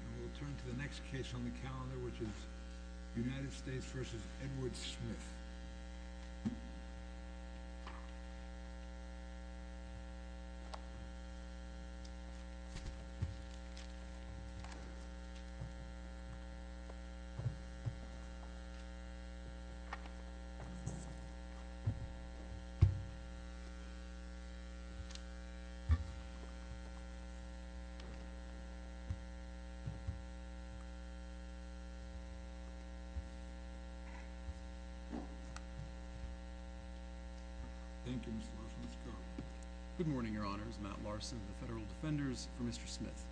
And we'll turn to the next case on the calendar, which is United States v. Edward Smith. Thank you, Mr. Larson. Let's go. Good morning, Your Honors. Matt Larson of the Federal Defenders for Mr. Smith.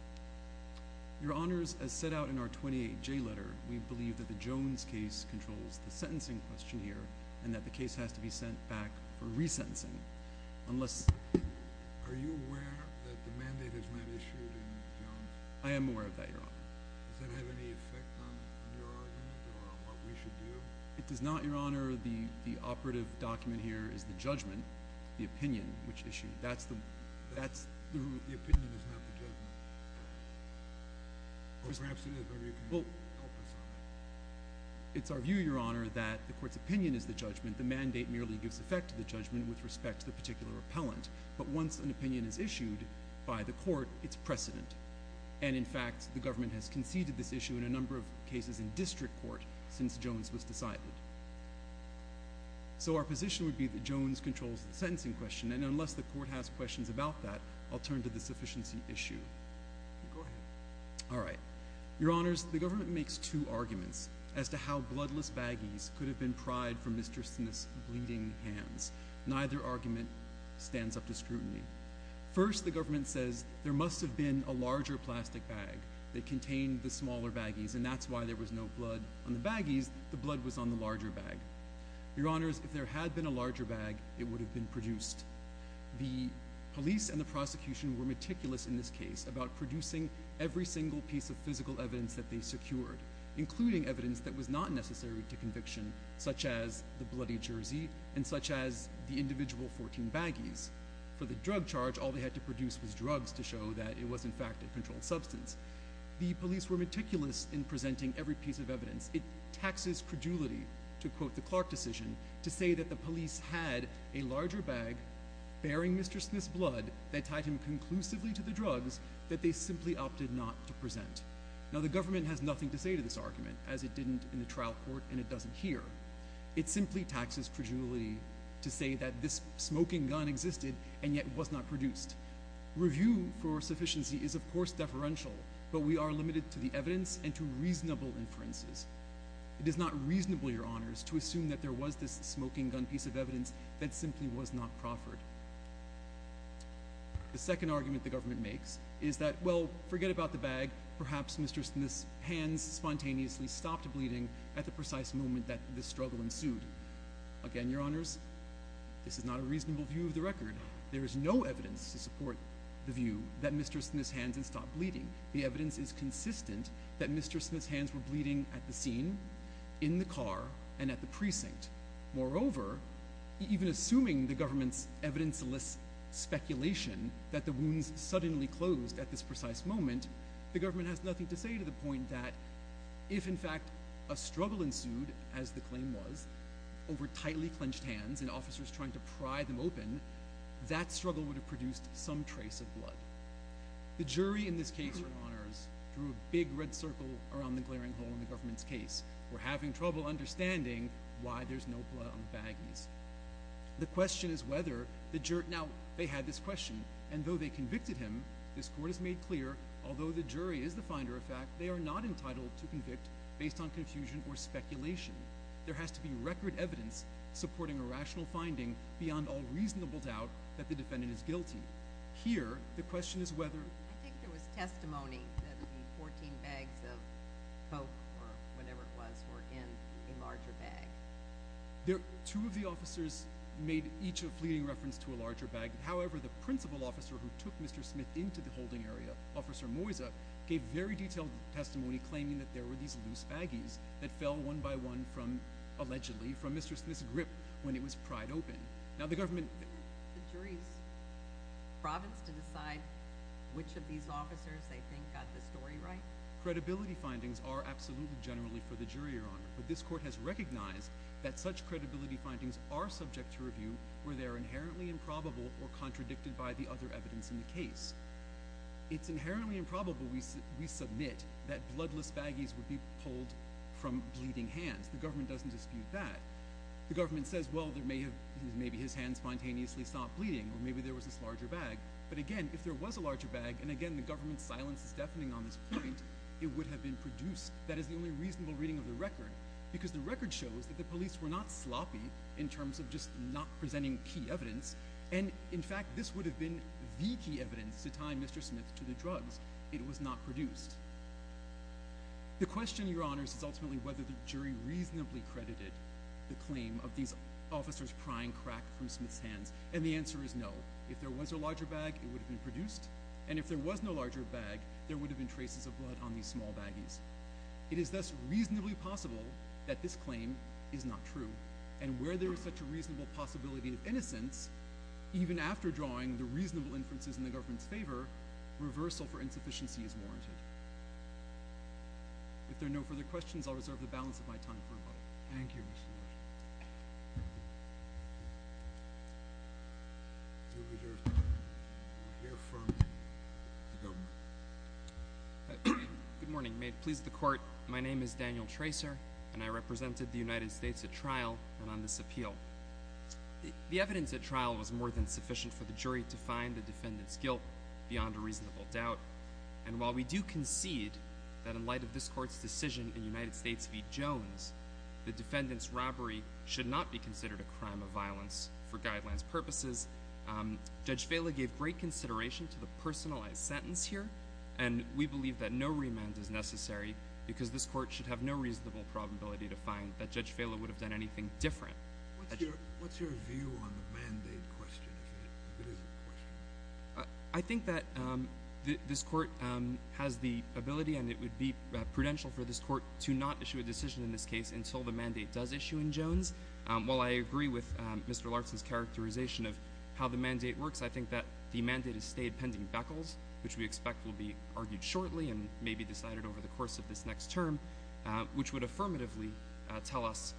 Your Honors, as set out in our 28J letter, we believe that the Jones case controls the sentencing questionnaire, and that the case has to be sent back for resentencing, unless... Are you aware that the mandate is not issued in Jones? I am aware of that, Your Honor. Does that have any effect on your argument, or on what we should do? It does not, Your Honor. The operative document here is the judgment, the opinion which issued. That's the rule. The opinion is not the judgment. Or perhaps it is. Maybe you can help us on that. It's our view, Your Honor, that the Court's opinion is the judgment. The mandate merely gives effect to the judgment with respect to the particular appellant. But once an opinion is issued by the Court, it's precedent. And in fact, the Government has conceded this issue in a number of cases in district court since Jones was decided. So our position would be that Jones controls the sentencing question, and unless the Court has questions about that, I'll turn to the sufficiency issue. Go ahead. All right. Your Honors, the Government makes two arguments as to how bloodless baggies could have been pried from Mr. Smith's bleeding hands. Neither argument stands up to scrutiny. First, the Government says there must have been a larger plastic bag that contained the smaller baggies, and that's why there was no blood on the baggies. The blood was on the larger bag. Your Honors, if there had been a larger bag, it would have been produced. The police and the prosecution were meticulous in this case about producing every single piece of physical evidence that they secured, including evidence that was not necessary to conviction, such as the bloody jersey and such as the individual 14 baggies. For the drug charge, all they had to produce was drugs to show that it was, in fact, a controlled substance. The police were meticulous in presenting every piece of evidence. It taxes credulity, to quote the Clark decision, to say that the police had a larger bag bearing Mr. Smith's blood that tied him conclusively to the drugs that they simply opted not to present. Now, the Government has nothing to say to this argument, as it didn't in the trial court and it doesn't here. It simply taxes credulity to say that this smoking gun existed and yet was not produced. Review for sufficiency is, of course, deferential, but we are limited to the evidence and to reasonable inferences. It is not reasonable, Your Honors, to assume that there was this smoking gun piece of evidence that simply was not proffered. The second argument the Government makes is that, well, forget about the bag. Perhaps Mr. Smith's hands spontaneously stopped bleeding at the precise moment that this struggle ensued. Again, Your Honors, this is not a reasonable view of the record. There is no evidence to support the view that Mr. Smith's hands had stopped bleeding. The evidence is consistent that Mr. Smith's hands were bleeding at the scene, in the car, and at the precinct. Moreover, even assuming the Government's evidence-less speculation that the wounds suddenly closed at this precise moment, the Government has nothing to say to the point that if, in fact, a struggle ensued, as the claim was, over tightly clenched hands and officers trying to pry them open, that struggle would have produced some trace of blood. The jury in this case, Your Honors, drew a big red circle around the glaring hole in the Government's case. We're having trouble understanding why there's no blood on the baggies. The question is whether the jur- Now, they had this question, and though they convicted him, this Court has made clear, although the jury is the finder of fact, they are not entitled to convict based on confusion or speculation. There has to be record evidence supporting a rational finding beyond all reasonable doubt that the defendant is guilty. Here, the question is whether- I think there was testimony that the 14 bags of Coke, or whatever it was, were in a larger bag. Two of the officers made each a fleeting reference to a larger bag. However, the principal officer who took Mr. Smith into the holding area, Officer Moysa, gave very detailed testimony claiming that there were these loose baggies that fell one by one from, allegedly, from Mr. Smith's grip when it was pried open. Now, the Government- The jury's province to decide which of these officers, they think, got the story right? Credibility findings are absolutely generally for the jury, Your Honor, but this Court has recognized that such credibility findings are subject to review where they are inherently improbable or contradicted by the other evidence in the case. It's inherently improbable, we submit, that bloodless baggies would be pulled from bleeding hands. The Government doesn't dispute that. The Government says, well, there may have- maybe his hands spontaneously stopped bleeding, or maybe there was this larger bag, but again, if there was a larger bag, and again, the Government's silence is deafening on this point, it would have been produced. That is the only reasonable reading of the record, because the record shows that the police were not sloppy in terms of just not presenting key evidence, and, in fact, this would have been the key evidence to tie Mr. Smith to the drugs. It was not produced. The question, Your Honors, is ultimately whether the jury reasonably credited the claim of these officers prying crack from Smith's hands, and the answer is no. If there was a larger bag, it would have been produced, and if there was no larger bag, there would have been traces of blood on these small baggies. It is thus reasonably possible that this claim is not true, and where there is such a reasonable possibility of innocence, even after drawing the reasonable inferences in the Government's favor, reversal for insufficiency is warranted. If there are no further questions, I'll reserve the balance of my time for rebuttal. Thank you, Mr. Larson. Good morning. May it please the Court, my name is Daniel Tracer, and I represented the United States at trial and on this appeal. The evidence at trial was more than sufficient for the jury to find the defendant's guilt beyond a reasonable doubt, and while we do concede that in light of this Court's decision in United States v. Jones, the defendant's robbery should not be considered a crime of violence for guidelines purposes, Judge Vela gave great consideration to the personalized sentence here, and we believe that no remand is necessary because this Court should have no reasonable probability to find that Judge Vela would have done anything different. What's your view on the mandate question, if it is a question? I think that this Court has the ability and it would be prudential for this Court to not issue a decision in this case until the mandate does issue in Jones. While I agree with Mr. Larson's characterization of how the mandate works, I think that the mandate has stayed pending beckles, which we expect will be argued shortly and may be decided over the course of this next term, which would affirmatively tell us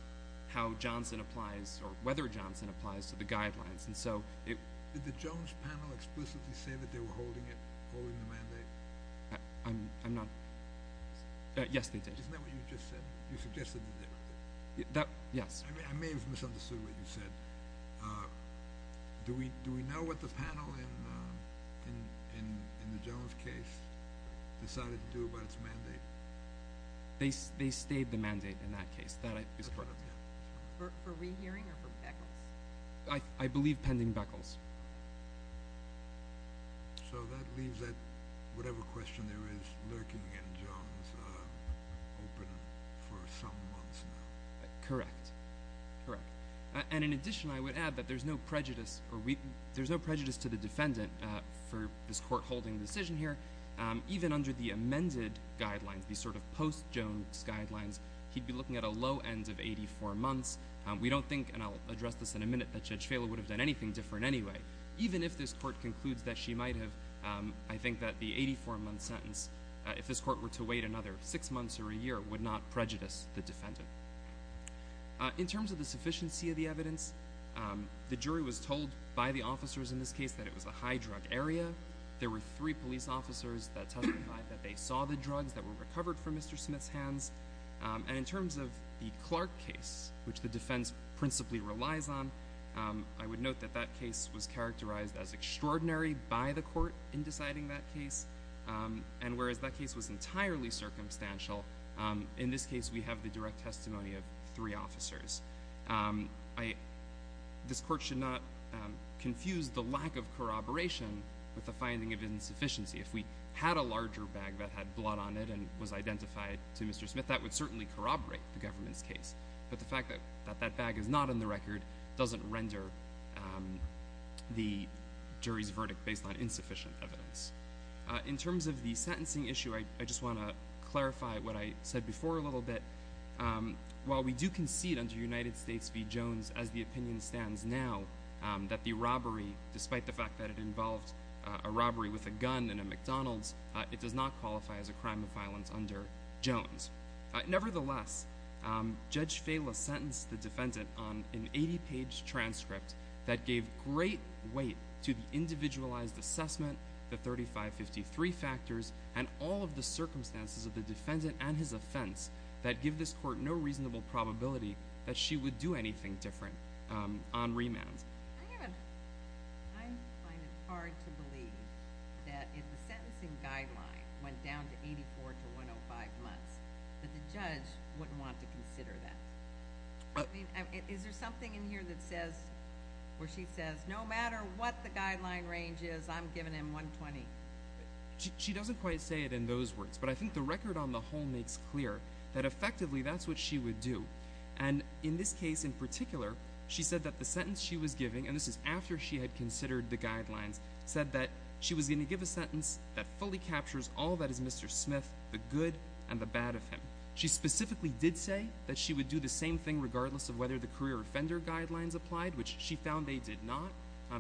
how Johnson applies or whether Johnson applies to the guidelines. Did the Jones panel explicitly say that they were holding the mandate? I'm not... Yes, they did. Isn't that what you just said? You suggested that they were? Yes. I may have misunderstood what you said. Do we know what the panel in the Jones case decided to do about its mandate? They stayed the mandate in that case. For rehearing or for beckles? I believe pending beckles. So that leaves that whatever question there is lurking in Jones open for some months now. Correct. Correct. And in addition, I would add that there's no prejudice to the defendant for this Court holding a decision here. Even under the amended guidelines, these sort of post-Jones guidelines, he'd be looking at a low end of 84 months. We don't think, and I'll address this in a minute, that Judge Phaler would have done anything different anyway. Even if this Court concludes that she might have, I think that the 84 month sentence, if this Court were to wait another six months or a year, would not prejudice the defendant. In terms of the sufficiency of the evidence, the jury was told by the officers in this case that it was a high drug area. There were three police officers that testified that they saw the drugs that were recovered from Mr. Smith's hands. And in terms of the Clark case, which the defense principally relies on, I would note that that case was characterized as extraordinary by the Court in deciding that case. And whereas that case was entirely circumstantial, in this case we have the direct testimony of three officers. This Court should not confuse the lack of corroboration with the finding of insufficiency. If we had a larger bag that had blood on it and was identified to Mr. Smith, that would certainly corroborate the government's case. But the fact that that bag is not in the record doesn't render the jury's verdict based on insufficient evidence. In terms of the sentencing issue, I just want to clarify what I said before a little bit. While we do concede under United States v. Jones, as the opinion stands now, that the robbery, despite the fact that it involved a robbery with a gun in a McDonald's, it does not qualify as a crime of violence under Jones. Nevertheless, Judge Fela sentenced the defendant on an 80-page transcript that gave great weight to the individualized assessment, the 3553 factors, and all of the circumstances of the defendant and his offense that give this Court no reasonable probability that she would do anything different on remand. I find it hard to believe that if the sentencing guideline went down to 84 to 105 months, that the judge wouldn't want to consider that. Is there something in here where she says, no matter what the guideline range is, I'm giving him 120? She doesn't quite say it in those words, but I think the record on the whole makes clear that effectively that's what she would do. In this case in particular, she said that the sentence she was giving, and this is after she had considered the guidelines, said that she was going to give a sentence that fully captures all that is Mr. Smith, the good and the bad of him. She specifically did say that she would do the same thing regardless of whether the career offender guidelines applied, which she found they did not,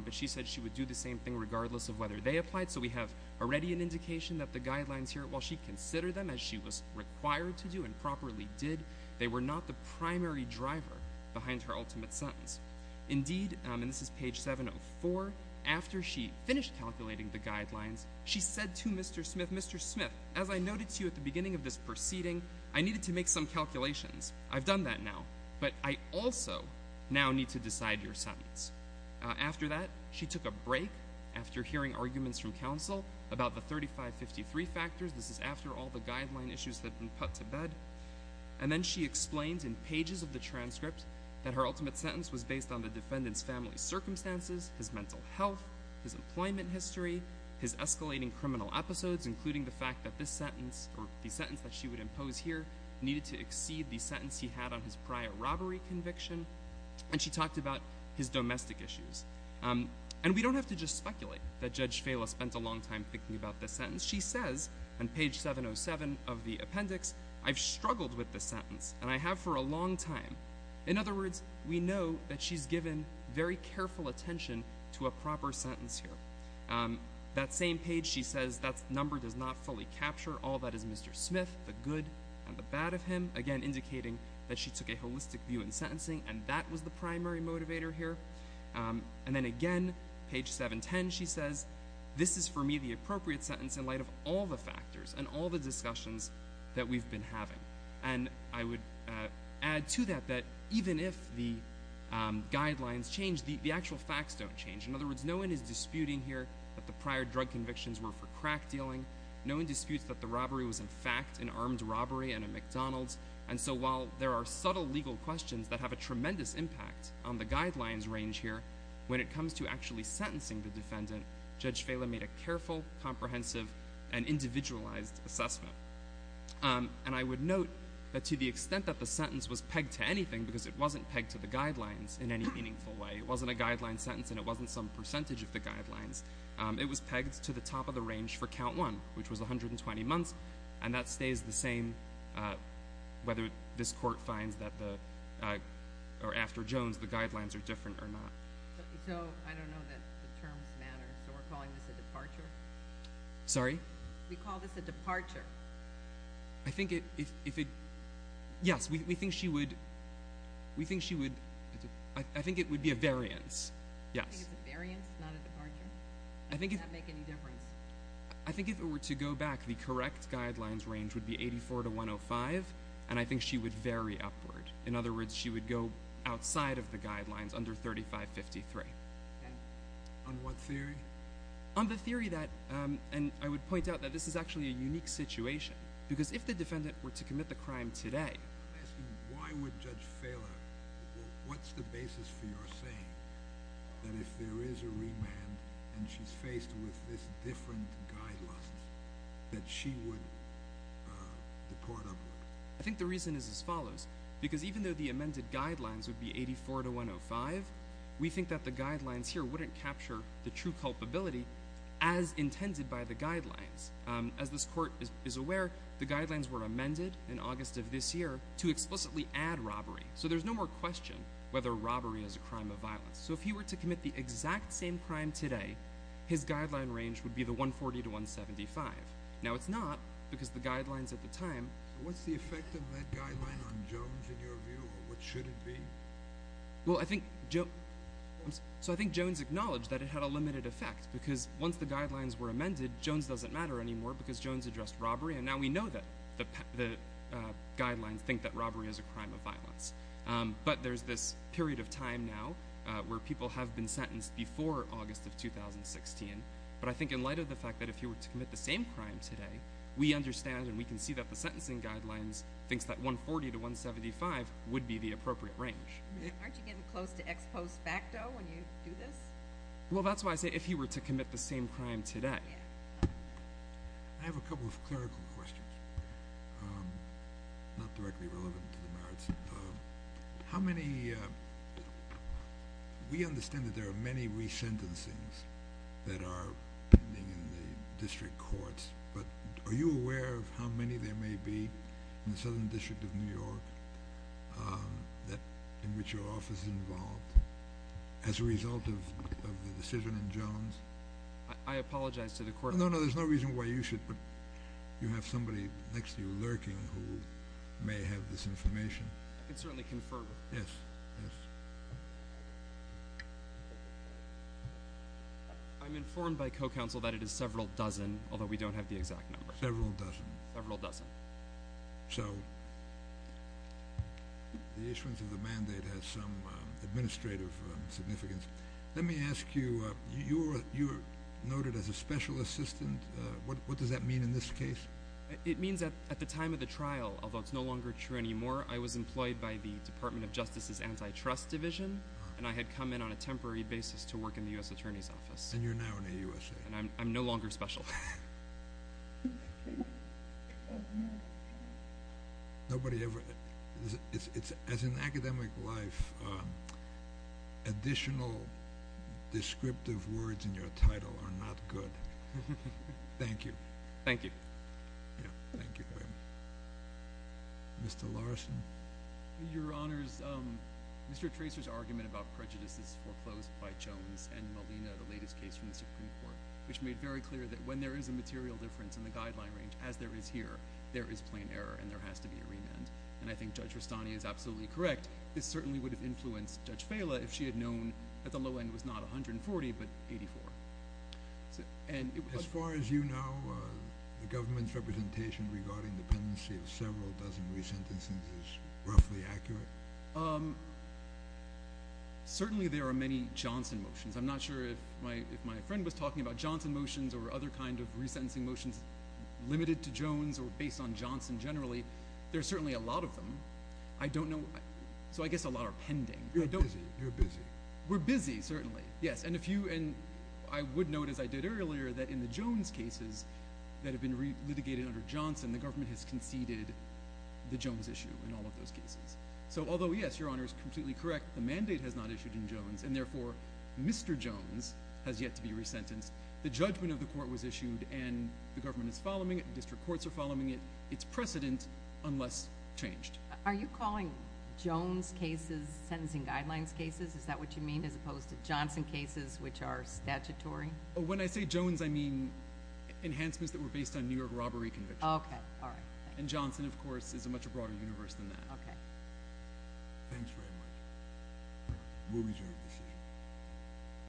but she said she would do the same thing regardless of whether they applied. So we have already an indication that the guidelines here, while she considered them as she was required to do and properly did, they were not the primary driver behind her ultimate sentence. Indeed, and this is page 704, after she finished calculating the guidelines, she said to Mr. Smith, Mr. Smith, as I noted to you at the beginning of this proceeding, I needed to make some calculations. I've done that now, but I also now need to decide your sentence. After that, she took a break after hearing arguments from counsel about the 3553 factors. This is after all the guideline issues had been put to bed. And then she explained in pages of the transcript that her ultimate sentence was based on the defendant's family circumstances, his mental health, his employment history, his escalating criminal episodes, including the fact that this sentence, or the sentence that she would impose here, needed to exceed the sentence he had on his prior robbery conviction. And she talked about his domestic issues. And we don't have to just speculate that Judge Fela spent a long time thinking about this sentence. She says on page 707 of the appendix, I've struggled with this sentence, and I have for a long time. In other words, we know that she's given very careful attention to a proper sentence here. That same page, she says, that number does not fully capture. All that is Mr. Smith, the good and the bad of him, again indicating that she took a holistic view in sentencing, and that was the primary motivator here. And then again, page 710, she says, this is for me the appropriate sentence in light of all the factors and all the discussions that we've been having. And I would add to that that even if the guidelines change, the actual facts don't change. In other words, no one is disputing here that the prior drug convictions were for crack dealing. No one disputes that the robbery was in fact an armed robbery and a McDonald's. And so while there are subtle legal questions that have a tremendous impact on the guidelines range here, when it comes to actually sentencing the defendant, Judge Fela made a careful, comprehensive, and individualized assessment. And I would note that to the extent that the sentence was pegged to anything, because it wasn't pegged to the guidelines in any meaningful way, it wasn't a guideline sentence and it wasn't some percentage of the guidelines, it was pegged to the top of the range for count one, which was 120 months, and that stays the same whether this court finds that after Jones the guidelines are different or not. So I don't know that the terms matter, so we're calling this a departure? Sorry? We call this a departure. I think it, if it, yes, we think she would, we think she would, I think it would be a variance, yes. You think it's a variance, not a departure? Does that make any difference? I think if it were to go back, the correct guidelines range would be 84 to 105, and I think she would vary upward. In other words, she would go outside of the guidelines under 3553. On what theory? On the theory that, and I would point out that this is actually a unique situation, because if the defendant were to commit the crime today, I'm asking why would Judge Fela, what's the basis for your saying that if there is a remand and she's faced with this different guidelines that she would depart upward? I think the reason is as follows, because even though the amended guidelines would be 84 to 105, we think that the guidelines here wouldn't capture the true culpability as intended by the guidelines. As this court is aware, the guidelines were amended in August of this year to explicitly add robbery, so there's no more question whether robbery is a crime of violence. So if he were to commit the exact same crime today, his guideline range would be the 140 to 175. Now, it's not, because the guidelines at the time— What's the effect of that guideline on Jones in your view, or what should it be? Well, I think Jones acknowledged that it had a limited effect, because once the guidelines were amended, Jones doesn't matter anymore, because Jones addressed robbery, and now we know that the guidelines think that robbery is a crime of violence. But there's this period of time now where people have been sentenced before August of 2016, but I think in light of the fact that if he were to commit the same crime today, we understand and we can see that the sentencing guidelines thinks that 140 to 175 would be the appropriate range. Aren't you getting close to ex post facto when you do this? Well, that's why I say if he were to commit the same crime today. I have a couple of clerical questions, not directly relevant to the merits. How many—we understand that there are many resentencings that are pending in the district courts, but are you aware of how many there may be in the Southern District of New York in which your office is involved as a result of the decision in Jones? I apologize to the court— No, no, there's no reason why you should, but you have somebody next to you lurking who may have this information. I can certainly confirm. Yes, yes. I'm informed by co-counsel that it is several dozen, although we don't have the exact number. Several dozen. Several dozen. So the issuance of the mandate has some administrative significance. Let me ask you, you are noted as a special assistant. What does that mean in this case? It means that at the time of the trial, although it's no longer true anymore, I was employed by the Department of Justice's Antitrust Division, and I had come in on a temporary basis to work in the U.S. Attorney's Office. And you're now in the USA. And I'm no longer special. Nobody ever—as in academic life, additional descriptive words in your title are not good. Thank you. Thank you. Thank you. Mr. Larson. Your Honors, Mr. Tracer's argument about prejudices foreclosed by Jones and Molina, the latest case from the Supreme Court, which made very clear that when there is a material difference in the guideline range, as there is here, there is plain error and there has to be a remand. And I think Judge Rastani is absolutely correct. This certainly would have influenced Judge Fela if she had known that the low end was not 140 but 84. As far as you know, the government's representation regarding dependency of several dozen resentences is roughly accurate? Certainly there are many Johnson motions. I'm not sure if my friend was talking about Johnson motions or other kind of resentencing motions limited to Jones or based on Johnson generally. There are certainly a lot of them. I don't know—so I guess a lot are pending. You're busy. We're busy, certainly, yes. And if you—and I would note, as I did earlier, that in the Jones cases that have been litigated under Johnson, the government has conceded the Jones issue in all of those cases. So although, yes, Your Honors, completely correct, the mandate has not issued in Jones, and therefore Mr. Jones has yet to be resentenced, the judgment of the court was issued and the government is following it, district courts are following it. It's precedent unless changed. Are you calling Jones cases sentencing guidelines cases? Is that what you mean as opposed to Johnson cases which are statutory? When I say Jones, I mean enhancements that were based on New York robbery convictions. Okay, all right. And Johnson, of course, is a much broader universe than that. Okay. Thanks very much. We'll adjourn this session.